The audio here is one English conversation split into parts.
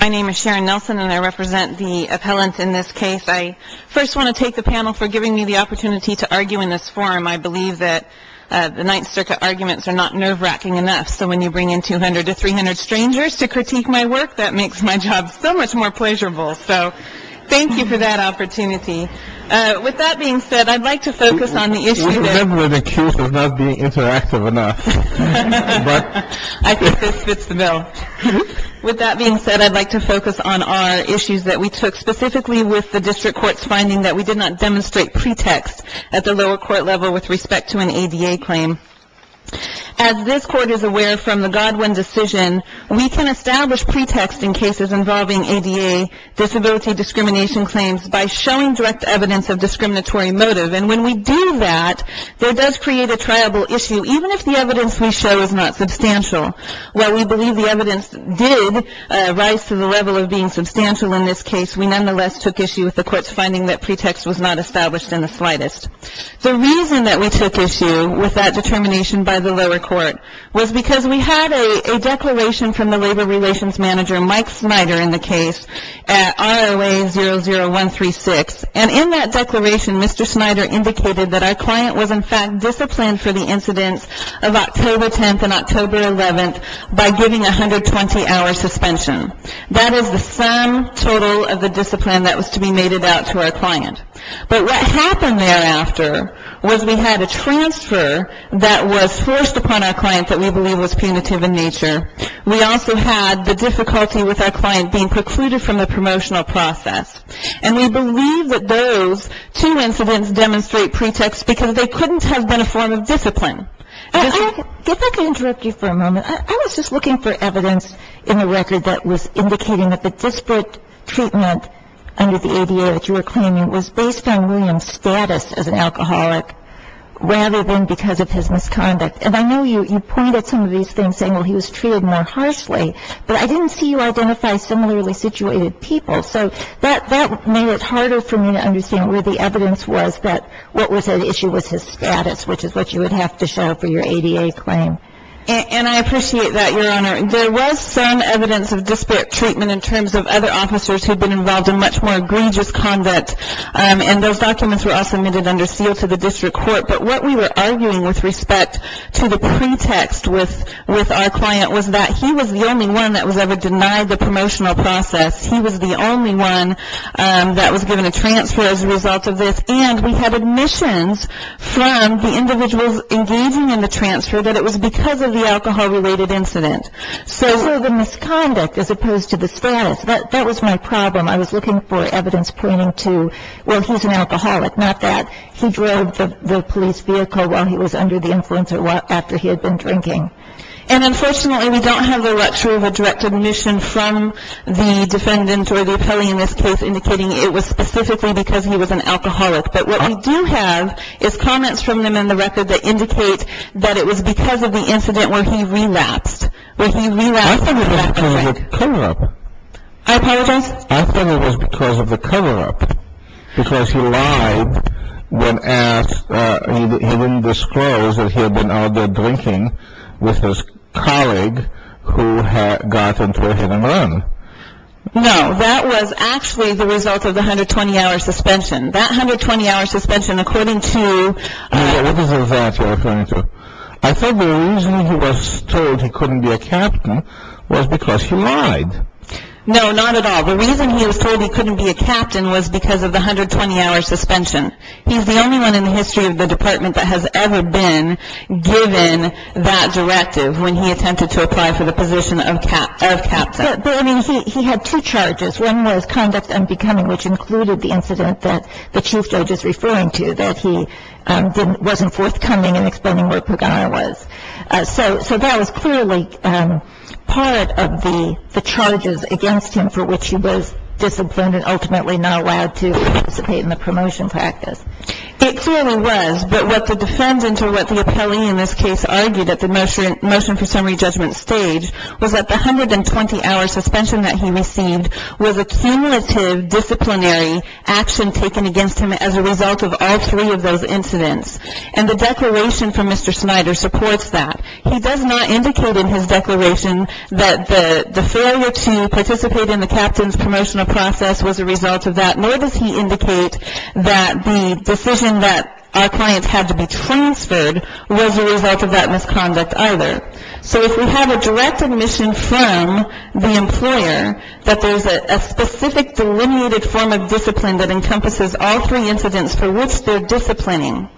My name is Sharon Nelson and I represent the appellants in this case. I first want to thank the panel for giving me the opportunity to argue in this forum. I believe that the Ninth Circuit arguments are not nerve-wracking enough, so when you bring in 200 to 300 strangers to critique my work, that makes my job so much more pleasurable. So thank you for that opportunity. With that being said, I'd like to focus on the issue that— We're deliberately accused of not being interactive enough. I think this fits the bill. With that being said, I'd like to focus on our issues that we took, specifically with the district court's finding that we did not demonstrate pretext at the lower court level with respect to an ADA claim. As this court is aware from the Godwin decision, we can establish pretext in cases involving ADA disability discrimination claims by showing direct evidence of discriminatory motive. And when we do that, that does create a triable issue, even if the evidence we show is not substantial. While we believe the evidence did rise to the level of being substantial in this case, we nonetheless took issue with the court's finding that pretext was not established in the slightest. The reason that we took issue with that determination by the lower court was because we had a declaration from the labor relations manager, Mike Snyder, in the case at ROA 00136. And in that declaration, Mr. Snyder indicated that our client was, in fact, for the incidents of October 10th and October 11th by giving a 120-hour suspension. That is the sum total of the discipline that was to be mated out to our client. But what happened thereafter was we had a transfer that was forced upon our client that we believe was punitive in nature. We also had the difficulty with our client being precluded from the promotional process. And we believe that those two incidents demonstrate pretext because they couldn't have been a form of discipline. And if I could interrupt you for a moment, I was just looking for evidence in the record that was indicating that the disparate treatment under the ADA that you were claiming was based on William's status as an alcoholic rather than because of his misconduct. And I know you pointed at some of these things saying, well, he was treated more harshly, but I didn't see you identify similarly situated people. So that made it harder for me to understand where the evidence was that what was at issue was his status, which is what you would have to show for your ADA claim. And I appreciate that, Your Honor. There was some evidence of disparate treatment in terms of other officers who had been involved in much more egregious conduct. And those documents were all submitted under seal to the district court. But what we were arguing with respect to the pretext with our client was that he was the only one that was ever denied the promotional process. He was the only one that was given a transfer as a result of this. And we had admissions from the individuals engaging in the transfer that it was because of the alcohol-related incident. So the misconduct as opposed to the status, that was my problem. I was looking for evidence pointing to, well, he's an alcoholic, not that he drove the police vehicle while he was under the influence or after he had been drinking. And, unfortunately, we don't have the lecture of a direct admission from the defendant or the appellee in this case indicating it was specifically because he was an alcoholic. But what we do have is comments from them in the record that indicate that it was because of the incident where he relapsed. I thought it was because of the cover-up. I apologize? I thought it was because of the cover-up. Because he lied when asked. He didn't disclose that he had been out there drinking with his colleague who got into a hit-and-run. No, that was actually the result of the 120-hour suspension. That 120-hour suspension, according to... What is it that you're referring to? I thought the reason he was told he couldn't be a captain was because he lied. No, not at all. The reason he was told he couldn't be a captain was because of the 120-hour suspension. He's the only one in the history of the department that has ever been given that directive when he attempted to apply for the position of captain. But, I mean, he had two charges. One was conduct unbecoming, which included the incident that the chief judge is referring to, that he wasn't forthcoming in explaining where Pagano was. So that was clearly part of the charges against him for which he was disciplined and ultimately not allowed to participate in the promotion practice. It clearly was. But what the defendant or what the appellee in this case argued at the motion for summary judgment stage was that the 120-hour suspension that he received was a cumulative disciplinary action taken against him as a result of all three of those incidents. And the declaration from Mr. Snyder supports that. He does not indicate in his declaration that the failure to participate in the captain's promotional process was a result of that, nor does he indicate that the decision that our clients had to be transferred was a result of that misconduct either. So if we have a direct admission from the employer that there's a specific delineated form of discipline that encompasses all three incidents for which they're disciplining,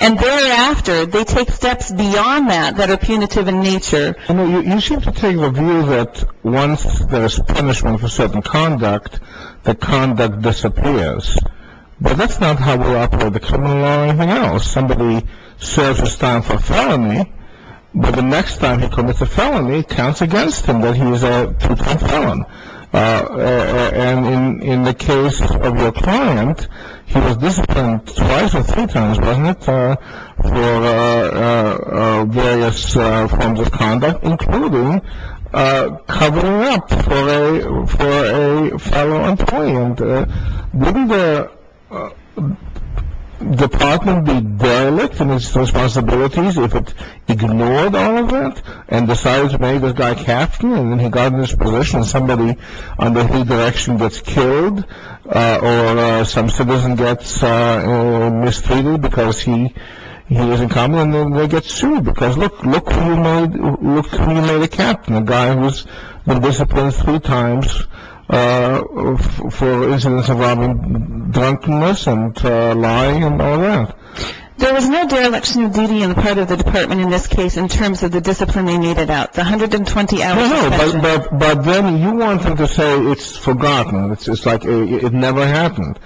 and thereafter they take steps beyond that that are punitive in nature. You seem to take the view that once there's punishment for certain conduct, the conduct disappears. But that's not how we operate the criminal law or anything else. Somebody serves his time for felony, but the next time he commits a felony, it counts against him that he's a true crime felon. And in the case of your client, he was disciplined twice or three times, wasn't it, for various forms of conduct, including covering up for a follow-on point. Wouldn't the department be derelict in its responsibilities if it ignored all of that and decided to make this guy captain and then he got in this position, and somebody under his direction gets killed or some citizen gets mistreated because he was incompetent, and then they get sued because, look who made a captain, a guy who's been disciplined three times for incidents involving drunkenness and lying and all that? There is no dereliction of duty on the part of the department in this case in terms of the discipline they needed out. It's a 120-hour session. But then you want them to say it's forgotten. It's like it never happened.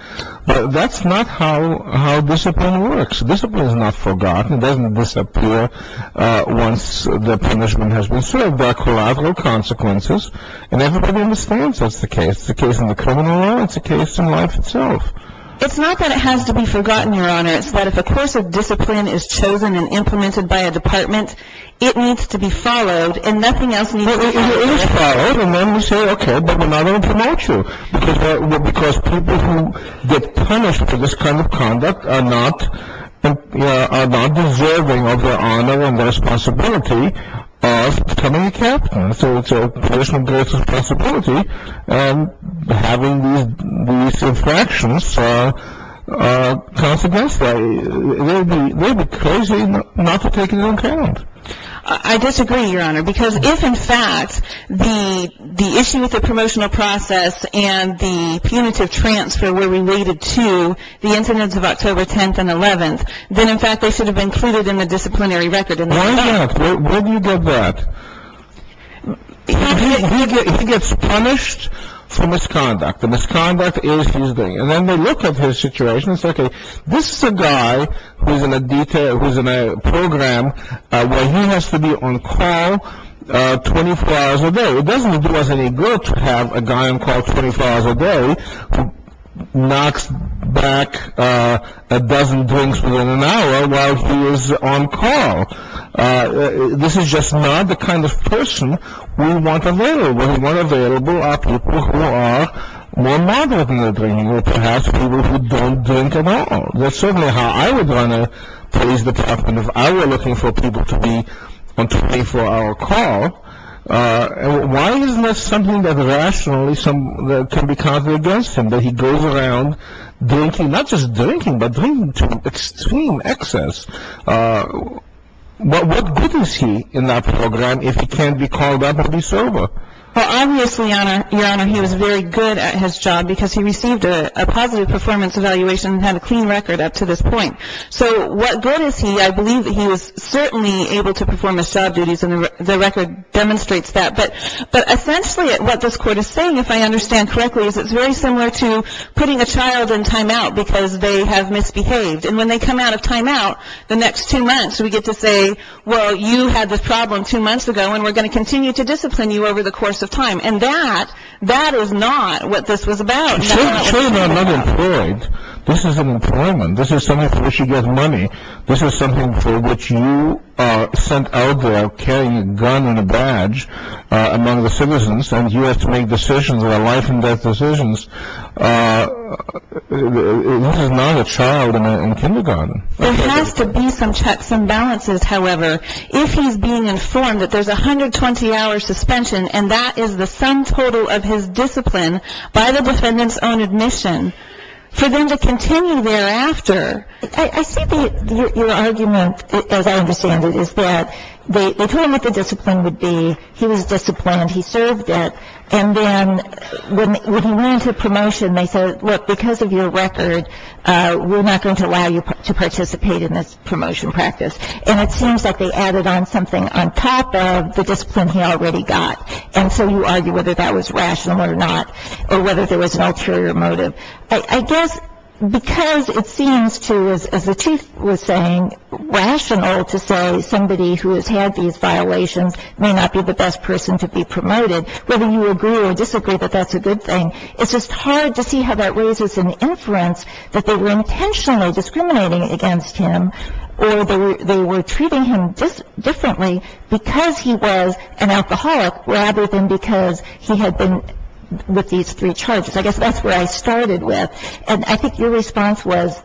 That's not how discipline works. Discipline is not forgotten. It doesn't disappear once the punishment has been served. There are collateral consequences, and everybody understands that's the case. It's the case in the criminal law. It's the case in life itself. It's not that it has to be forgotten, Your Honor. It's that if a course of discipline is chosen and implemented by a department, it needs to be followed and nothing else needs to be done. It is followed, and then we say, okay, but we're not going to punish you because people who get punished for this kind of conduct are not deserving of the honor and responsibility of becoming a captain. So punishment goes to the possibility of having these infractions, consequence they would be crazy not to take into account. I disagree, Your Honor, because if, in fact, the issue with the promotional process and the punitive transfer were related to the incidents of October 10th and 11th, then, in fact, they should have been included in the disciplinary record. Why not? Where do you get that? He gets punished for misconduct. The misconduct is he's doing it. And then they look at his situation and say, okay, this is a guy who's in a program where he has to be on call 24 hours a day. It doesn't do us any good to have a guy on call 24 hours a day who knocks back a dozen drinks within an hour while he is on call. This is just not the kind of person we want available. What we want available are people who are more moderate in their drinking or perhaps people who don't drink at all. That's certainly how I would run a police detective, and if I were looking for people to be on 24-hour call, why isn't that something that rationally can be counted against him, that he goes around drinking, not just drinking, but drinking to extreme excess? What good is he in that program if he can't be called up and be sober? Well, obviously, Your Honor, he was very good at his job because he received a positive performance evaluation and had a clean record up to this point. So what good is he? I believe that he was certainly able to perform his job duties, and the record demonstrates that. But essentially what this court is saying, if I understand correctly, is it's very similar to putting a child in time-out because they have misbehaved. And when they come out of time-out, the next two months we get to say, well, you had this problem two months ago, and we're going to continue to discipline you over the course of time. And that is not what this was about. Surely they're not employed. This is an employment. This is something where she gets money. This is something for which you are sent out there carrying a gun and a badge among the citizens, and you have to make decisions that are life-and-death decisions. This is not a child in kindergarten. There has to be some checks and balances, however, if he's being informed that there's a 120-hour suspension, and that is the sum total of his discipline by the defendant's own admission, for them to continue thereafter. I see your argument, as I understand it, is that they told him what the discipline would be. He was disciplined. He served it. And then when he went into promotion, they said, look, because of your record, we're not going to allow you to participate in this promotion practice. And it seems like they added on something on top of the discipline he already got. And so you argue whether that was rational or not, or whether there was an ulterior motive. I guess because it seems to, as the Chief was saying, rational to say somebody who has had these violations may not be the best person to be promoted, whether you agree or disagree that that's a good thing, it's just hard to see how that raises an inference that they were intentionally discriminating against him or they were treating him differently because he was an alcoholic rather than because he had been with these three charges. I guess that's where I started with. And I think your response was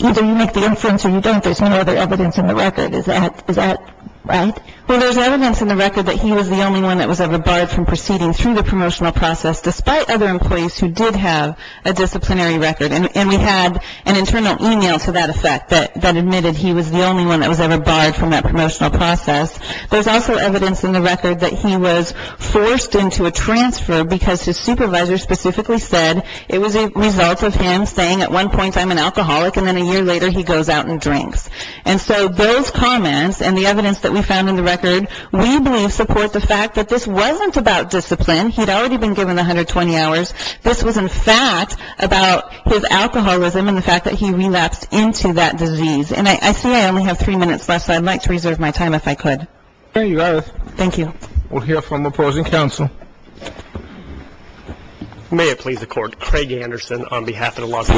either you make the inference or you don't. There's no other evidence in the record. Is that right? Well, there's evidence in the record that he was the only one that was ever barred from proceeding through the promotional process, despite other employees who did have a disciplinary record. And we had an internal email to that effect that admitted he was the only one that was ever barred from that promotional process. There's also evidence in the record that he was forced into a transfer because his supervisor specifically said it was a result of him saying at one point I'm an alcoholic and then a year later he goes out and drinks. And so those comments and the evidence that we found in the record, we believe support the fact that this wasn't about discipline. He'd already been given 120 hours. This was, in fact, about his alcoholism and the fact that he relapsed into that disease. And I see I only have three minutes left, so I'd like to reserve my time if I could. There you are. Thank you. We'll hear from the opposing counsel. May it please the Court. Craig Anderson on behalf of the Las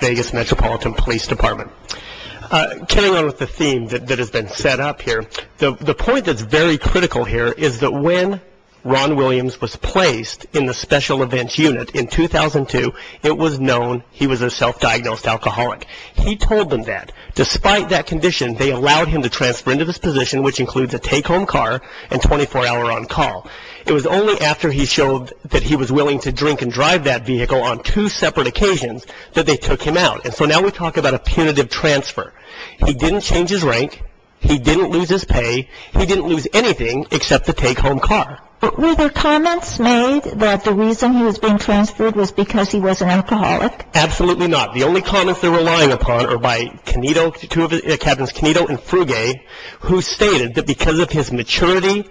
Vegas Metropolitan Police Department. Carrying on with the theme that has been set up here, the point that's very critical here is that when Ron Williams was placed in the special events unit in 2002, it was known he was a self-diagnosed alcoholic. He told them that. Despite that condition, they allowed him to transfer into this position, which includes a take-home car and 24-hour on-call. It was only after he showed that he was willing to drink and drive that vehicle on two separate occasions that they took him out. And so now we talk about a punitive transfer. He didn't change his rank. He didn't lose his pay. He didn't lose anything except the take-home car. But were there comments made that the reason he was being transferred was because he was an alcoholic? Absolutely not. The only comments they're relying upon are by Captains Canedo and Fruge, who stated that because of his maturity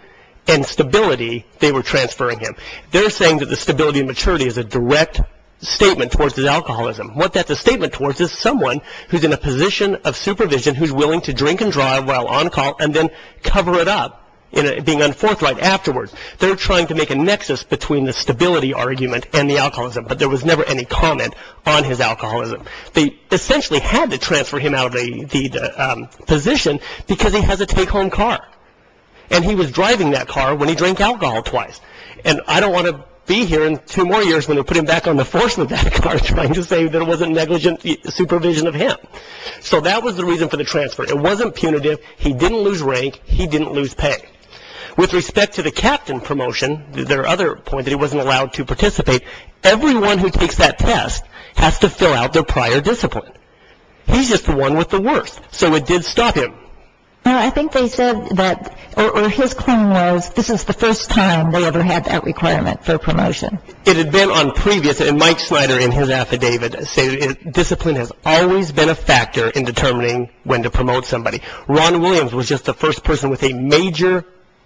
and stability they were transferring him. They're saying that the stability and maturity is a direct statement towards his alcoholism. What that's a statement towards is someone who's in a position of supervision who's willing to drink and drive while on-call and then cover it up, being on forthright afterwards. They're trying to make a nexus between the stability argument and the alcoholism, but there was never any comment on his alcoholism. They essentially had to transfer him out of the position because he has a take-home car. And he was driving that car when he drank alcohol twice. And I don't want to be here in two more years when they put him back on the force of that car trying to say that it wasn't negligent supervision of him. So that was the reason for the transfer. It wasn't punitive. He didn't lose rank. He didn't lose pay. With respect to the Captain promotion, there are other points that he wasn't allowed to participate. Everyone who takes that test has to fill out their prior discipline. He's just the one with the worst. So it did stop him. I think they said that, or his claim was this is the first time they ever had that requirement for promotion. It had been on previous, and Mike Snyder in his affidavit said discipline has always been a factor in determining when to promote somebody. Ron Williams was just the first person with a major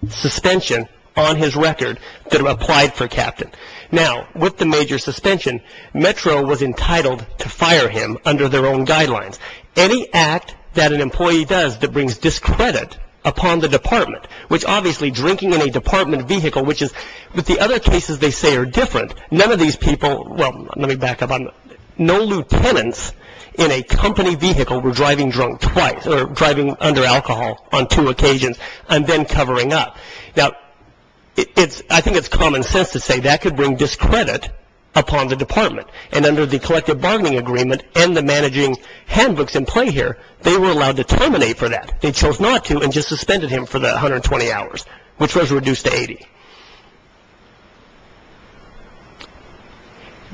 suspension on his record that applied for Captain. Now, with the major suspension, Metro was entitled to fire him under their own guidelines. Any act that an employee does that brings discredit upon the department, which obviously drinking in a department vehicle, which is what the other cases they say are different, none of these people, well, let me back up. No lieutenants in a company vehicle were driving drunk twice or driving under alcohol on two occasions and then covering up. Now, I think it's common sense to say that could bring discredit upon the department, and under the collective bargaining agreement and the managing handbooks in play here, they were allowed to terminate for that. They chose not to and just suspended him for the 120 hours, which was reduced to 80.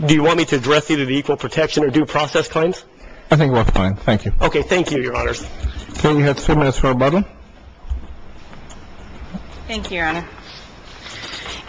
Do you want me to address either the equal protection or due process claims? I think we're fine. Thank you. Okay. Thank you, Your Honors. Okay. We have two minutes for rebuttal. Thank you, Your Honor.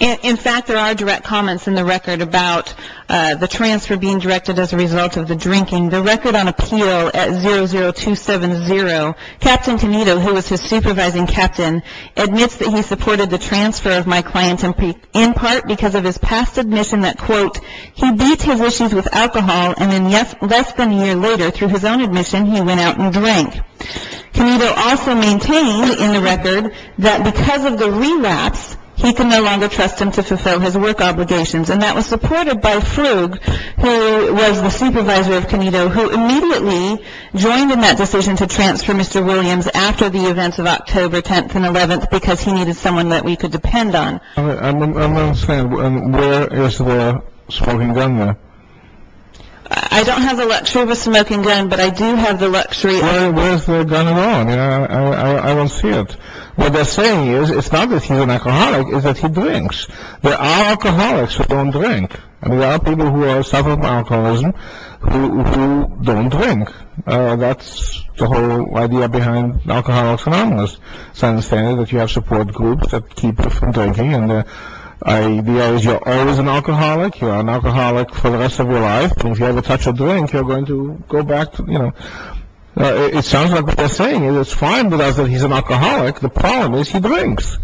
In fact, there are direct comments in the record about the transfer being directed as a result of the drinking. The record on appeal at 00270, Captain Tonito, who was his supervising captain, admits that he supported the transfer of my client in part because of his past admission that, quote, and then less than a year later, through his own admission, he went out and drank. Tonito also maintained in the record that because of the relapse, he could no longer trust him to fulfill his work obligations, and that was supported by Frug, who was the supervisor of Tonito, who immediately joined in that decision to transfer Mr. Williams after the events of October 10th and 11th because he needed someone that we could depend on. I don't understand. Where is the smoking gun there? I don't have the luxury of a smoking gun, but I do have the luxury of a smoking gun. Where is the gun at all? I don't see it. What they're saying is it's not that he's an alcoholic, it's that he drinks. There are alcoholics who don't drink, and there are people who are suffering from alcoholism who don't drink. That's the whole idea behind Alcoholics Anonymous. It's understandable that you have support groups that keep drinking, and the idea is you're always an alcoholic, you're an alcoholic for the rest of your life, and if you ever touch a drink, you're going to go back to, you know. It sounds like what they're saying is it's fine that he's an alcoholic. The problem is he drinks.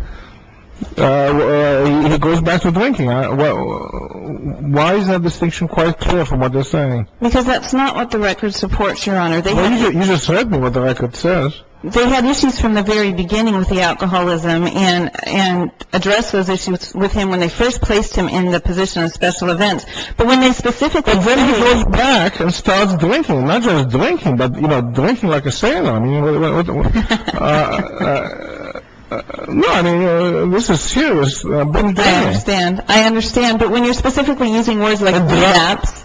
He goes back to drinking. Why is that distinction quite clear from what they're saying? Because that's not what the record supports, Your Honor. You just read me what the record says. They had issues from the very beginning with the alcoholism and addressed those issues with him when they first placed him in the position of special events. But when they specifically say he goes back and starts drinking, not just drinking, but, you know, drinking like a sailor, I mean, no, I mean, this is serious. I understand. I understand, but when you're specifically using words like relapse,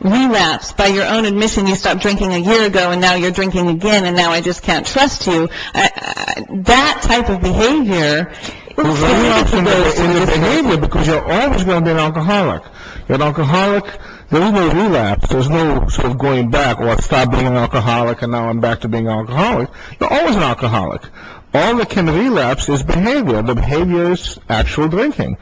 relapse, or by your own admission you stopped drinking a year ago and now you're drinking again and now I just can't trust you, that type of behavior, it just goes in this direction. Because you're always going to be an alcoholic. You're an alcoholic. There's no relapse. There's no sort of going back or stop being an alcoholic and now I'm back to being an alcoholic. You're always an alcoholic. All that can relapse is behavior, but behavior is actual drinking.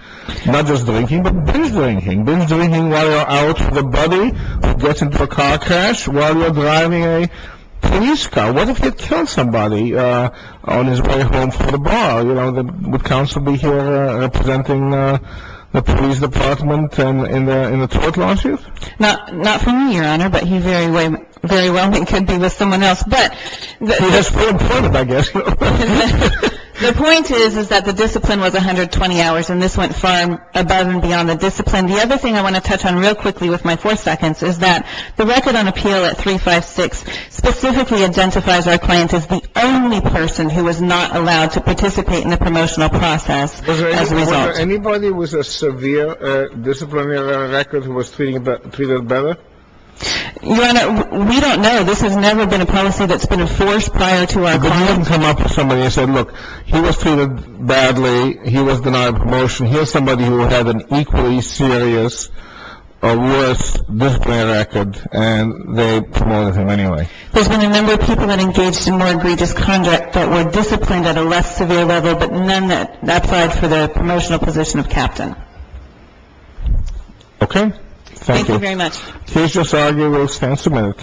Not just drinking, but binge drinking. Binge drinking while you're out with a buddy who gets into a car crash while you're driving a police car. What if you killed somebody on his way home from the bar? You know, would counsel be here representing the police department in the tort lawsuit? Not for me, Your Honor, but he very well could be with someone else. He was very important, I guess. The point is that the discipline was 120 hours and this went far above and beyond the discipline. And the other thing I want to touch on real quickly with my four seconds is that the record on appeal at 356 specifically identifies our client as the only person who was not allowed to participate in the promotional process as a result. Was there anybody with a severe disciplinary record who was treated better? Your Honor, we don't know. This has never been a policy that's been enforced prior to our client. But you didn't come up with somebody and say, look, he was treated badly. He was denied promotion. Here's somebody who had an equally serious or worse disciplinary record, and they promoted him anyway. There's been a number of people that engaged in more egregious conduct that were disciplined at a less severe level, but none that applied for the promotional position of captain. Okay. Thank you. Thank you very much. Please just argue your stance a minute.